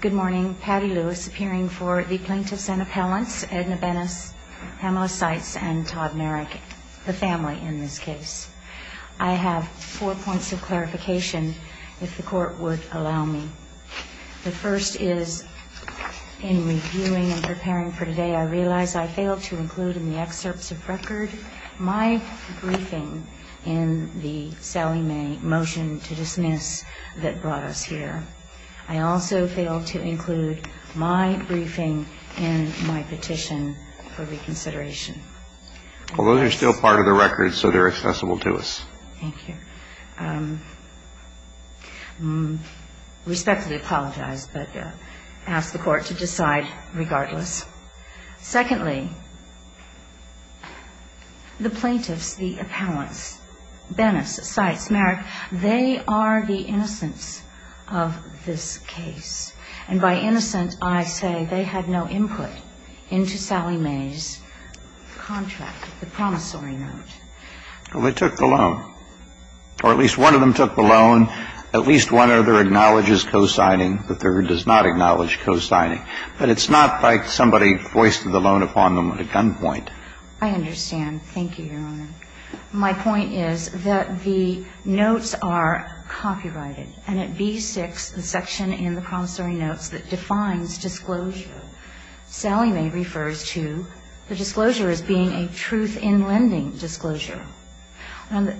Good morning. Patty Lewis, appearing for the Plaintiffs and Appellants, Edna Benis, Pamela Seitz, and Todd Merrick, the family in this case. I have four points of clarification, if the Court would allow me. The first is, in reviewing and preparing for today, I realize I failed to include in the excerpts of record my briefing in the Sallie Mae motion to dismiss that brought us here. I also failed to include my briefing in my petition for reconsideration. Well, those are still part of the record, so they're accessible to us. Thank you. Respectfully apologize, but ask the Court to decide regardless. Secondly, the plaintiffs, the appellants, Benis, Seitz, Merrick, they are the innocents of this case. And by innocent, I say they had no input into Sallie Mae's contract, the promissory note. Well, they took the loan. Or at least one of them took the loan. At least one other acknowledges cosigning. The third does not acknowledge cosigning. But it's not like somebody voiced the loan upon them at gunpoint. I understand. Thank you, Your Honor. My point is that the notes are copyrighted. And at B6, the section in the promissory notes that defines disclosure, Sallie Mae refers to the disclosure as being a truth-in-lending disclosure. And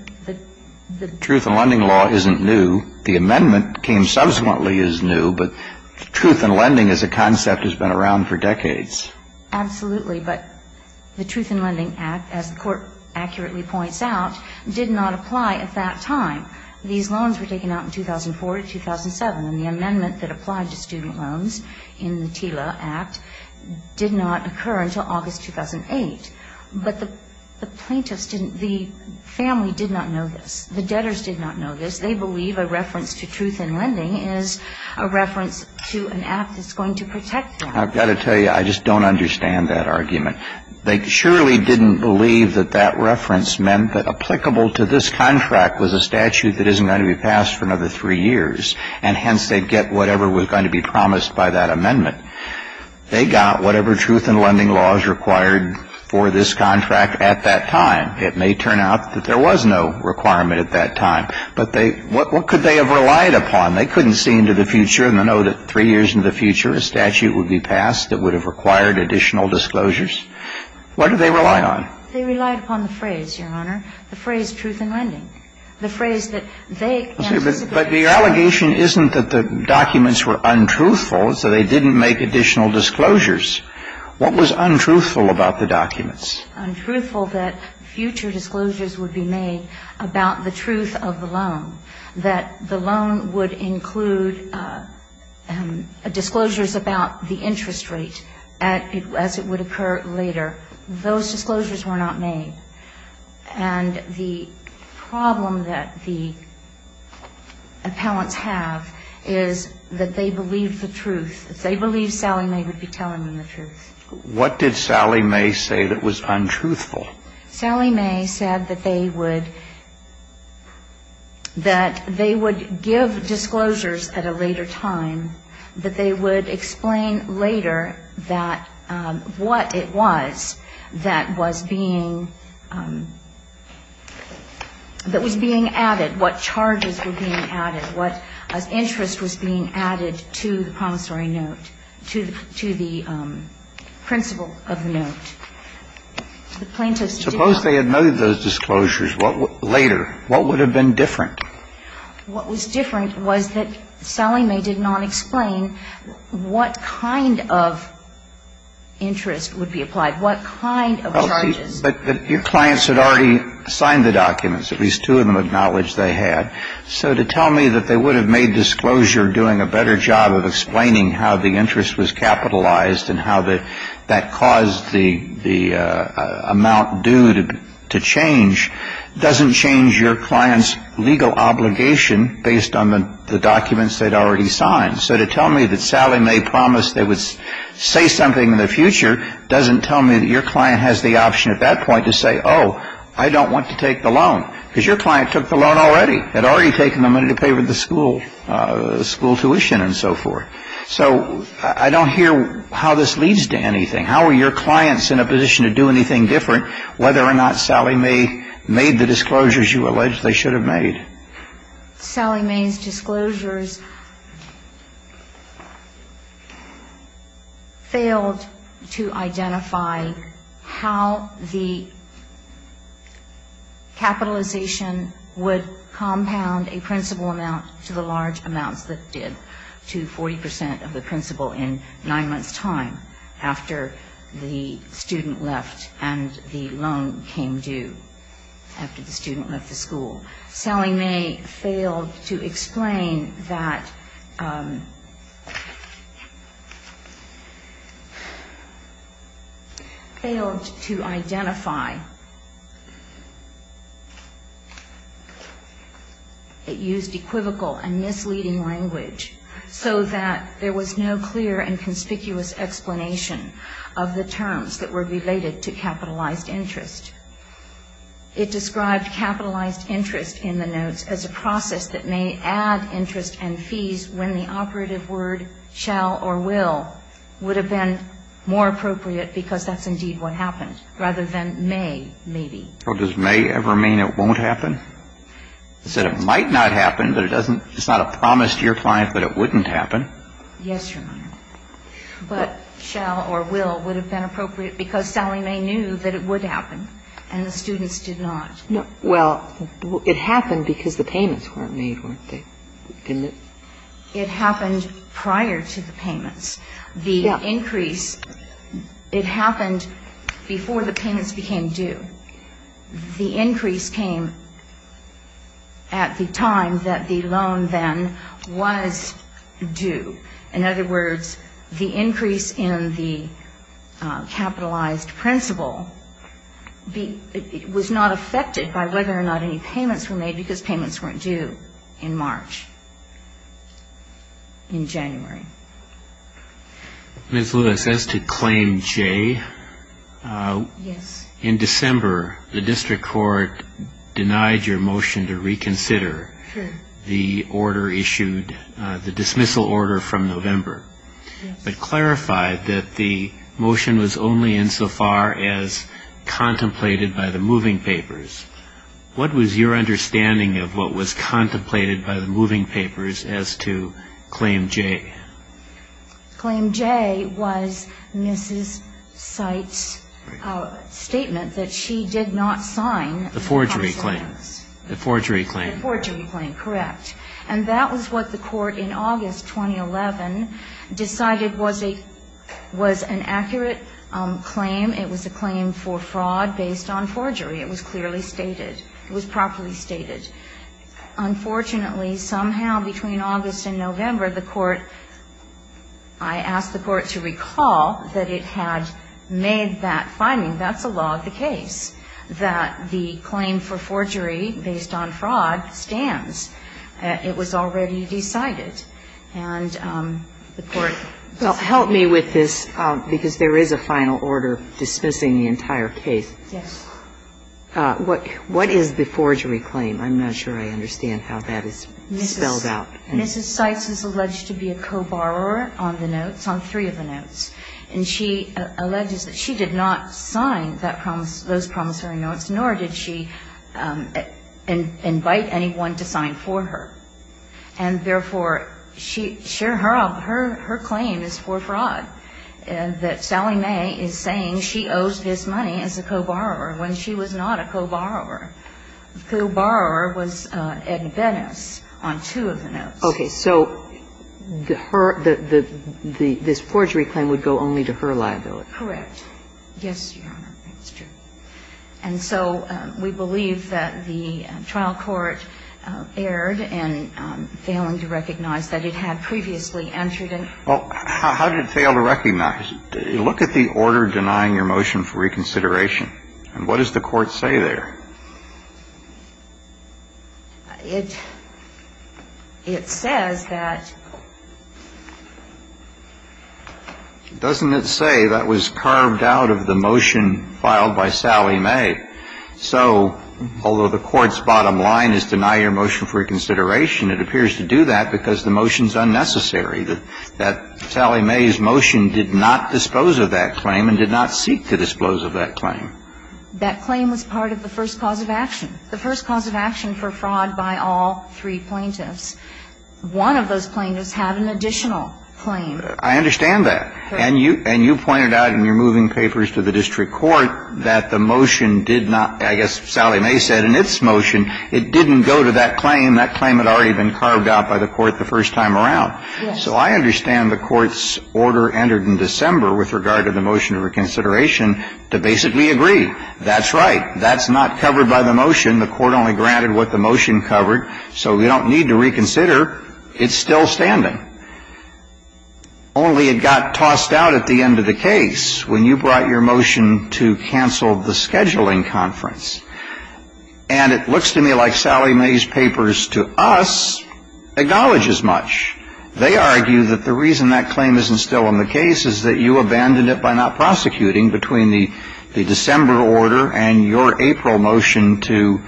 the truth-in-lending law isn't new. The amendment came subsequently as new. But truth-in-lending as a concept has been around for decades. Absolutely. But the truth-in-lending act, as the Court accurately points out, did not apply at that time. These loans were taken out in 2004 to 2007. And the amendment that applied to student loans in the TILA Act did not occur until August 2008. But the plaintiffs didn't, the family did not know this. The debtors did not know this. They believe a reference to truth-in-lending is a reference to an act that's going to protect them. I've got to tell you, I just don't understand that argument. They surely didn't believe that that reference meant that applicable to this contract was a statute that isn't going to be passed for another three years. And hence, they'd get whatever was going to be promised by that amendment. They got whatever truth-in-lending laws required for this contract at that time. It may turn out that there was no requirement at that time. But they – what could they have relied upon? They couldn't see into the future and know that three years into the future a statute would be passed that would have required additional disclosures. What did they rely on? They relied upon the phrase, Your Honor, the phrase truth-in-lending. The phrase that they anticipated. But your allegation isn't that the documents were untruthful, so they didn't make additional disclosures. What was untruthful about the documents? Untruthful that future disclosures would be made about the truth of the loan, that the loan would include disclosures about the interest rate as it would occur later. Those disclosures were not made. And the problem that the appellants have is that they believed the truth. They believed Sally May would be telling them the truth. What did Sally May say that was untruthful? Sally May said that they would – that they would give disclosures at a later time, that they would explain later that – what it was that was being – that was being added, what charges were being added, what interest was being added to the promissory note, to the principle of the note. The plaintiffs did not – Suppose they had made those disclosures later. What would have been different? What was different was that Sally May did not explain what kind of interest would be applied, what kind of charges – But your clients had already signed the documents. At least two of them acknowledged they had. So to tell me that they would have made disclosure doing a better job of explaining how the interest was capitalized and how that caused the amount due to change doesn't change your client's legal obligation based on the documents they'd already signed. So to tell me that Sally May promised they would say something in the future doesn't tell me that your client has the option at that point to say, oh, I don't want to take the loan, because your client took the loan already, had already taken the money to pay the school tuition and so forth. So I don't hear how this leads to anything. How are your clients in a position to do anything different whether or not Sally May made the disclosures you allege they should have made? Sally May's disclosures failed to identify how the capitalization would compound a principle amount to the large amounts that did to 40 percent of the principle in nine months' time after the student left and the loan came due after the student left the school. Sally failed to identify. It used equivocal and misleading language so that there was no clear and conspicuous explanation of the terms that were related to capitalized interest. It described capitalized interest in the notes as a process that may add interest and fees when the operative word shall or will would have been more appropriate because that's indeed what happened, rather than may, maybe. So does may ever mean it won't happen? It said it might not happen, but it doesn't – it's not a promise to your client that it wouldn't happen? Yes, Your Honor. But shall or will would have been appropriate because Sally May knew that it would happen, and the students did not. Well, it happened because the payments weren't made, weren't they? It happened prior to the payments. The increase – it happened before the payments became due. The increase came at the time that the loan then was due. In other words, the increase in the capitalized principle was not affected by whether or not any payments were made because of the increase in capitalized interest in January. Ms. Lewis, as to Claim J, in December, the District Court denied your motion to reconsider the order issued, the dismissal order from November, but clarified that the motion was only insofar as contemplated by the moving papers. What was your understanding of what was contemplated by the moving papers as to Claim J? Claim J was Mrs. Seitz's statement that she did not sign the parcel of the house. The forgery claim. The forgery claim. The forgery claim, correct. And that was what the Court in August 2011 decided was an accurate claim. It was a claim for fraud based on forgery. It was clearly stated. It was properly stated. Unfortunately, somehow between August and November, the Court – I asked the Court to recall that it had made that finding, that's a law of the case, that the claim for forgery based on fraud stands. It was already decided. And the Court – Well, help me with this, because there is a final order dismissing the entire case. Yes. What is the forgery claim? I'm not sure I understand how that is spelled out. Mrs. Seitz is alleged to be a co-borrower on the notes, on three of the notes. And she alleges that she did not sign that – those promissory notes, nor did she invite anyone to sign for her. And therefore, she – sure, her claim is for fraud, that Sally May is saying she owes this money as a co-borrower when she was not a co-borrower. The co-borrower was Edna Benes on two of the notes. Okay. So the – this forgery claim would go only to her liability. Correct. Yes, Your Honor, that's true. And so we believe that the trial court erred in failing to recognize that it had previously entered in – Well, how did it fail to recognize? Look at the order denying your motion for reconsideration. And what does the court say there? It – it says that – Doesn't it say that was carved out of the motion filed by Sally May? So although the court's bottom line is deny your motion for reconsideration, it appears to do that because the motion's unnecessary, that Sally May's motion did not dispose of that claim and did not seek to dispose of that claim. That claim was part of the first cause of action, the first cause of action for fraud by all three plaintiffs. One of those plaintiffs had an additional claim. I understand that. And you – and you pointed out in your moving papers to the district court that the motion did not – I guess Sally May said in its motion it didn't go to that claim. That claim had already been carved out by the court the first time around. Yes. So I understand the court's order entered in December with regard to the motion for reconsideration to basically agree, that's right, that's not covered by the motion. The court only granted what the motion covered. So we don't need to reconsider. It's still standing. Only it got tossed out at the end of the case when you brought your motion to cancel the scheduling conference. And it looks to me like Sally May's papers to us acknowledge as much. They argue that the reason that claim isn't still in the case is that you abandoned it by not prosecuting between the December order and your April motion to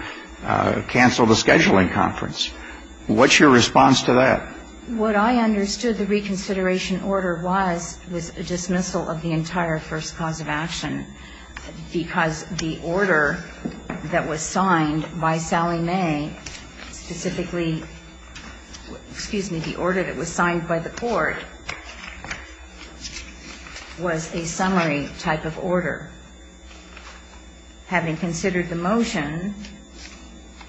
cancel the scheduling conference. What's your response to that? What I understood the reconsideration order was was a dismissal of the entire first cause of action because the order that was signed by Sally May specifically – excuse me, the order that was signed by the court was a summary type of order. Having considered the motion,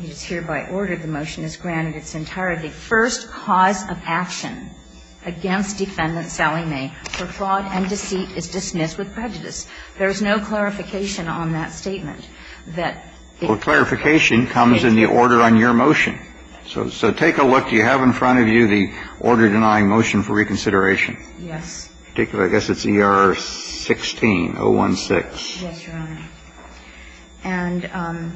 it is hereby ordered the motion is granted its entirety. First cause of action against defendant Sally May for fraud and deceit is dismissed with prejudice. There is no clarification on that statement. Well, clarification comes in the order on your motion. So take a look. Do you have in front of you the order denying motion for reconsideration? Yes. I guess it's ER 16, 016. Yes, Your Honor.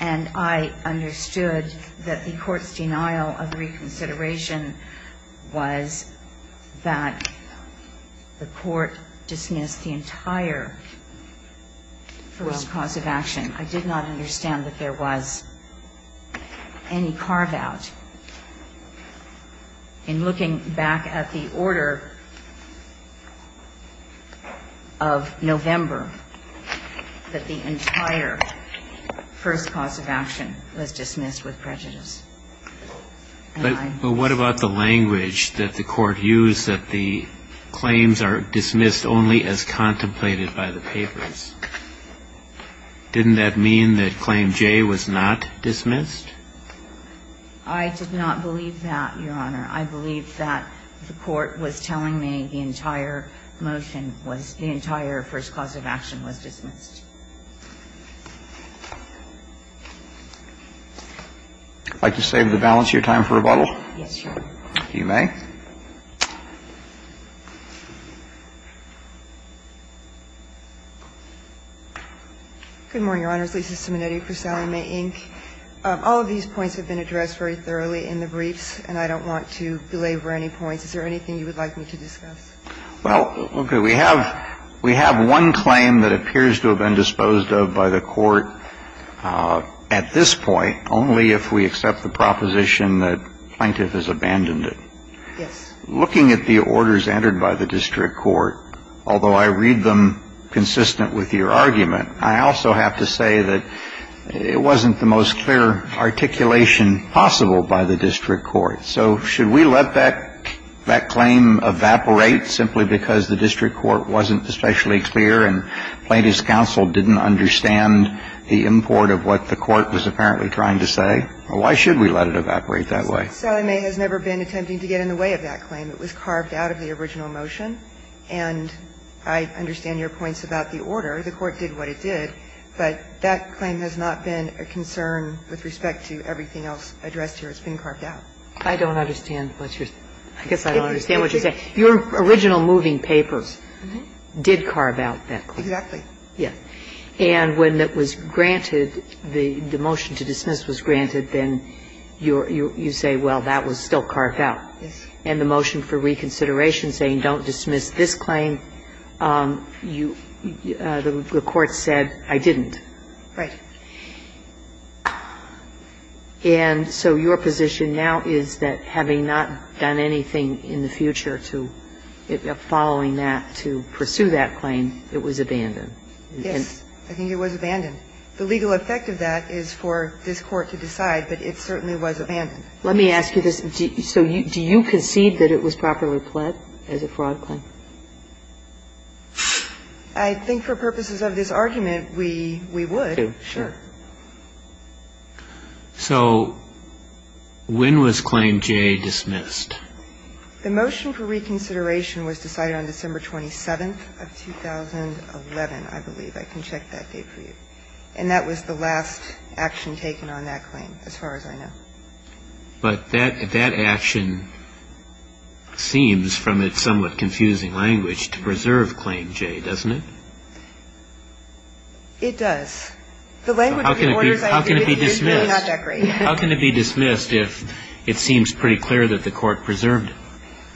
And I understood that the court's denial of reconsideration was that the court dismissed the entire first cause of action. I did not understand that there was any carve-out in looking back at the order of November that the entire first cause of action was dismissed with prejudice. But what about the language that the court used that the claims are dismissed only as contemplated by the papers? Didn't that mean that claim J was not dismissed? I did not believe that, Your Honor. I believed that the court was telling me the entire motion was the entire first cause of action was dismissed. Would you like to save the balance of your time for rebuttal? Yes, Your Honor. You may. Good morning, Your Honors. Lisa Simonetti for Sally May Inc. All of these points have been addressed very thoroughly in the briefs, and I don't want to belabor any points. Is there anything you would like me to discuss? Well, we have one claim that appears to have been disposed of by the court at this point, only if we accept the proposition that plaintiff has abandoned it. Yes. Looking at the orders entered by the district court, although I read them consistent with your argument, I also have to say that it wasn't the most clear articulation possible by the district court. So should we let that claim evaporate simply because the district court wasn't especially clear and plaintiff's counsel didn't understand the import of what the court was apparently trying to say? Why should we let it evaporate that way? Sally May has never been attempting to get in the way of that claim. It was carved out of the original motion, and I understand your points about the order. The court did what it did, but that claim has not been a concern with respect to everything else addressed here. It's been carved out. I don't understand what you're saying. I guess I don't understand what you're saying. Your original moving papers did carve out that claim. Exactly. Yes. And when it was granted, the motion to dismiss was granted, then you say, well, that was still carved out. Yes. And the motion for reconsideration saying don't dismiss this claim, the court said I didn't. Right. And so your position now is that having not done anything in the future to following that to pursue that claim, it was abandoned. Yes. I think it was abandoned. The legal effect of that is for this Court to decide, but it certainly was abandoned. Let me ask you this. So do you concede that it was properly pled as a fraud claim? I think for purposes of this argument, we would. Sure. So when was Claim J dismissed? The motion for reconsideration was decided on December 27th of 2011, I believe. I can check that date for you. And that was the last action taken on that claim, as far as I know. But that action seems, from its somewhat confusing language, to preserve Claim J, doesn't it? It does. How can it be dismissed? How can it be dismissed if it seems pretty clear that the Court preserved it?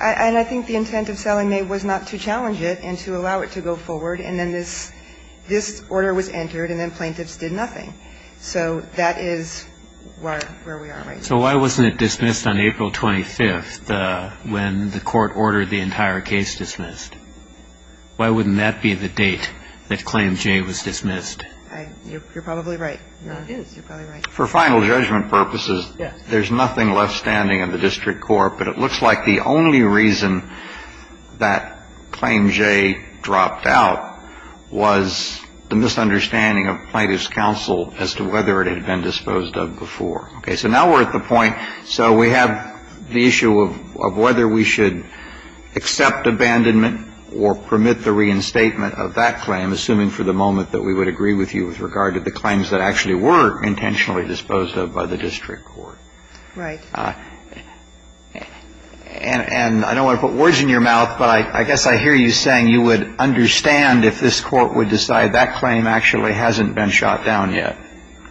And I think the intent of Sallie Mae was not to challenge it and to allow it to go forward. And then this order was entered, and then plaintiffs did nothing. So that is where we are right now. So why wasn't it dismissed on April 25th, when the Court ordered the entire case dismissed? Why wouldn't that be the date that Claim J was dismissed? You're probably right. It is. You're probably right. For final judgment purposes, there's nothing left standing in the District Court. But it looks like the only reason that Claim J dropped out was the misunderstanding of plaintiff's counsel as to whether it had been disposed of before. Okay. So now we're at the point. So we have the issue of whether we should accept abandonment or permit the reinstatement of that claim, assuming for the moment that we would agree with you with regard to the claims that actually were intentionally disposed of by the District Court. Right. And I don't want to put words in your mouth, but I guess I hear you saying you would understand if this Court would decide that claim actually hasn't been shot down yet.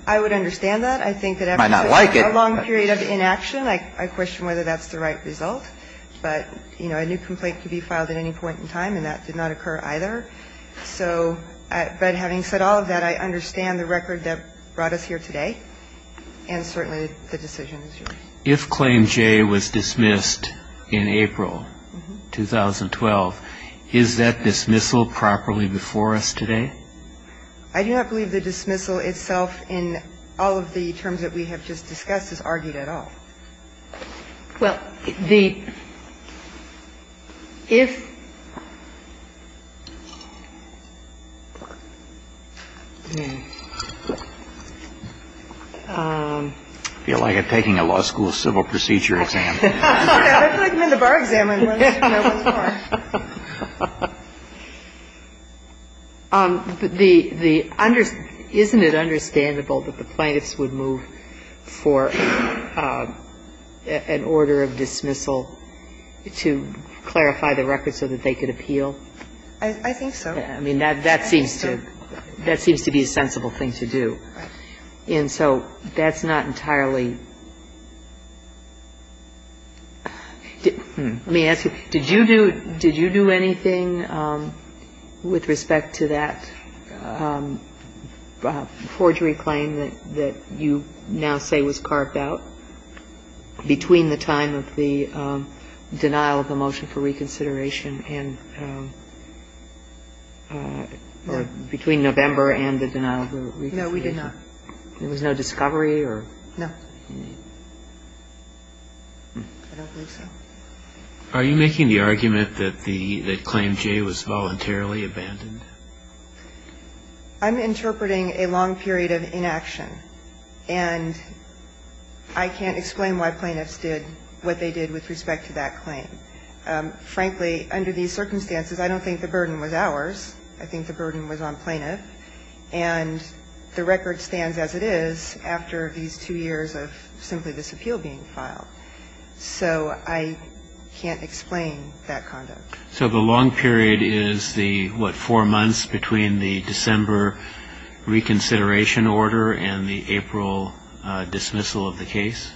I would understand that. I think that after a long period of inaction, I question whether that's the right result. But, you know, a new complaint could be filed at any point in time, and that did not occur either. So but having said all of that, I understand the record that brought us here today and certainly the decision. If Claim J was dismissed in April 2012, is that dismissal properly before us today? I do not believe the dismissal itself in all of the terms that we have just discussed is argued at all. Well, the – if – I feel like I'm taking a law school civil procedure exam. I feel like I'm in the bar exam. Isn't it understandable that the plaintiffs would move for an order of dismissal to clarify the record so that they could appeal? I think so. I mean, that seems to be a sensible thing to do. And so that's not entirely – I mean, answer my question. Did you do – did you do anything with respect to that forgery claim that you now say was carved out between the time of the denial of the motion for reconsideration and – or between November and the denial of the reconsideration? No, we did not. There was no discovery or – No. I don't believe so. Are you making the argument that the – that Claim J was voluntarily abandoned? I'm interpreting a long period of inaction. And I can't explain why plaintiffs did what they did with respect to that claim. Frankly, under these circumstances, I don't think the burden was ours. I think the burden was on plaintiff. And the record stands as it is after these two years of simply this appeal being filed. So I can't explain that conduct. So the long period is the, what, four months between the December reconsideration order and the April dismissal of the case?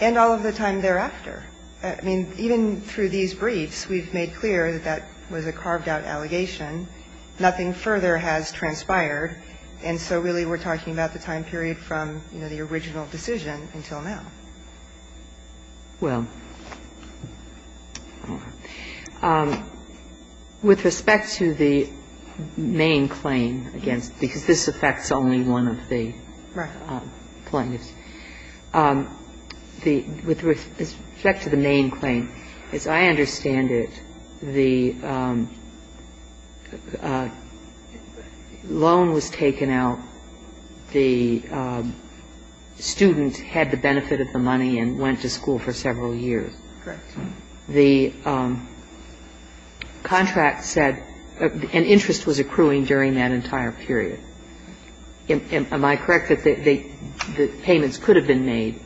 And all of the time thereafter. I mean, even through these briefs, we've made clear that that was a carved-out allegation. Nothing further has transpired. And so really we're talking about the time period from, you know, the original decision until now. Well, with respect to the main claim against – because this affects only one of the plaintiffs. With respect to the main claim, as I understand it, the loan was taken out, the student had the benefit of the money and went to school for several years. Correct. The contract said an interest was accruing during that entire period. Am I correct that the payments could have been made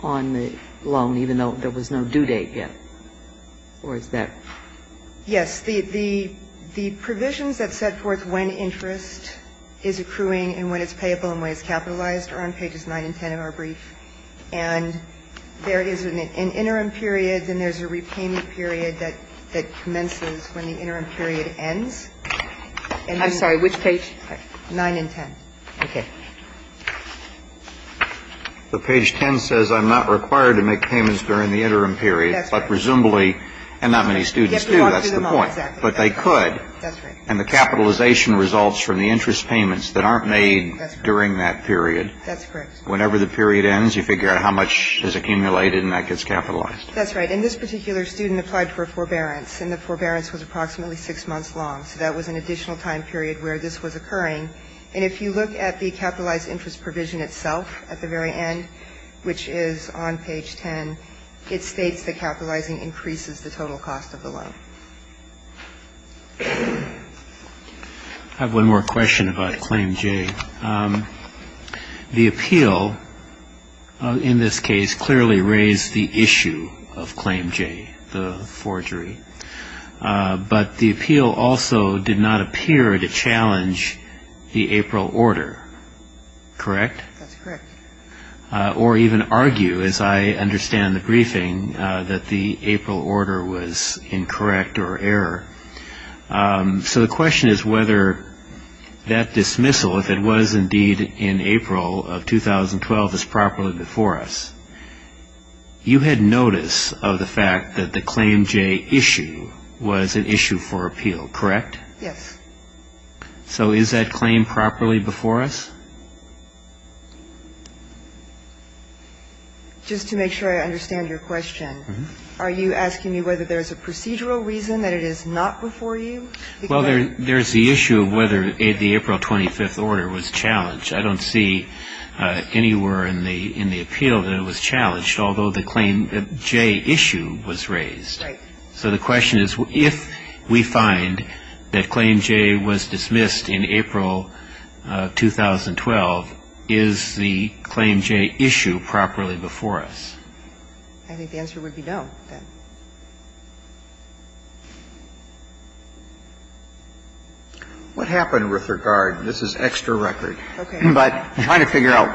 on the loan, even though there was no due date yet? Or is that? Yes. The provisions that set forth when interest is accruing and when it's payable and when it's capitalized are on pages 9 and 10 of our brief. And there is an interim period, then there's a repayment period that commences when the interim period ends. I'm sorry. Which page? 9 and 10. Okay. The page 10 says I'm not required to make payments during the interim period. That's right. But presumably, and not many students do, that's the point. You have to walk through the month. Exactly. But they could. That's right. And the capitalization results from the interest payments that aren't made during that period. That's correct. Whenever the period ends, you figure out how much is accumulated and that gets capitalized. That's right. And this particular student applied for a forbearance. And the forbearance was approximately six months long. So that was an additional time period where this was occurring. And if you look at the capitalized interest provision itself at the very end, which is on page 10, it states that capitalizing increases the total cost of the loan. I have one more question about Claim J. The appeal, in this case, clearly raised the issue of Claim J, the forgery. But the appeal also did not appear to challenge the April order, correct? That's correct. Or even argue, as I understand the briefing, that the April order was incorrect. Or error. So the question is whether that dismissal, if it was indeed in April of 2012, is properly before us. You had notice of the fact that the Claim J issue was an issue for appeal, correct? Yes. So is that claim properly before us? Just to make sure I understand your question. Are you asking me whether there's a procedural reason that it is not before you? Well, there's the issue of whether the April 25th order was challenged. I don't see anywhere in the appeal that it was challenged, although the Claim J issue was raised. Right. So the question is, if we find that Claim J was dismissed in April of 2012, is the Claim J issue properly before us? I think the answer would be no, then. What happened with regard? This is extra record. Okay. But I'm trying to figure out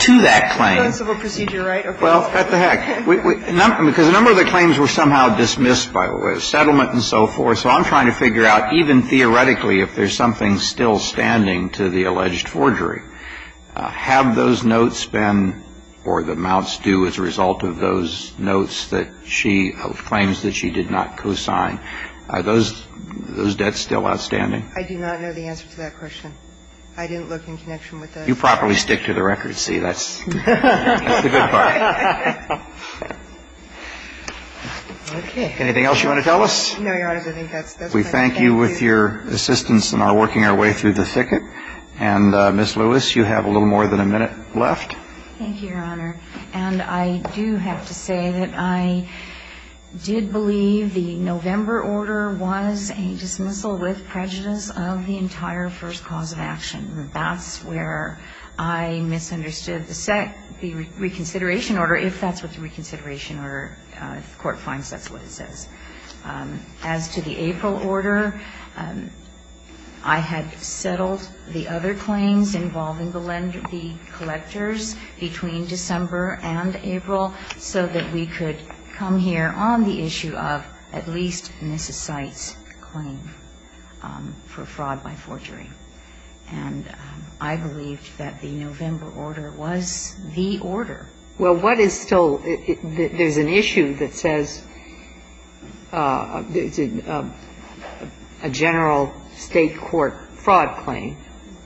to that claim. Civil procedure, right? Okay. Well, what the heck. Because a number of the claims were somehow dismissed by settlement and so forth. So I'm trying to figure out, even theoretically, if there's something still standing to the alleged forgery. Have those notes been or the amounts due as a result of those notes that she claims that she did not co-sign, are those debts still outstanding? I do not know the answer to that question. I didn't look in connection with those. You properly stick to the record, see, that's the good part. All right. Okay. Anything else you want to tell us? No, Your Honor. I think that's it. We thank you with your assistance in our working our way through the thicket. And Ms. Lewis, you have a little more than a minute left. Thank you, Your Honor. And I do have to say that I did believe the November order was a dismissal with prejudice of the entire first cause of action. That's where I misunderstood the reconsideration order, if that's what the reconsideration order, if the court finds that's what it says. As to the April order, I had settled the other claims involving the collectors between December and April so that we could come here on the issue of at least Mrs. Seitz's claim for fraud by forgery. And I believed that the November order was the order. Well, what is still, there's an issue that says a general state court fraud claim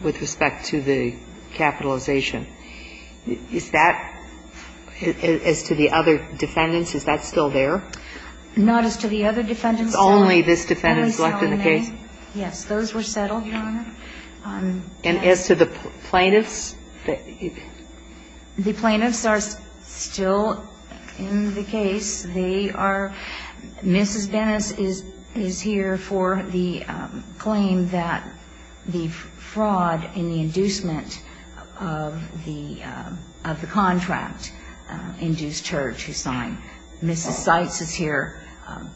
with respect to the capitalization. Is that, as to the other defendants, is that still there? Not as to the other defendants. It's only this defendant left in the case? Yes. Those were settled, Your Honor. And as to the plaintiffs? The plaintiffs are still in the case. They are, Mrs. Dennis is here for the claim that the fraud and the inducement of the contract induced her to sign. Mrs. Seitz is here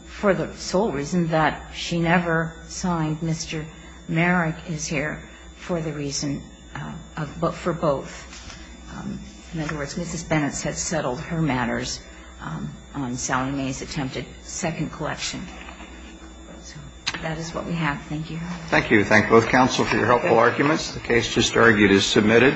for the sole reason that she never signed. Mr. Merrick is here for the reason, for both. In other words, Mrs. Bennett has settled her matters on Salome's attempted second collection. That is what we have. Thank you. Thank you. Thank both counsel for your helpful arguments. The case just argued is submitted.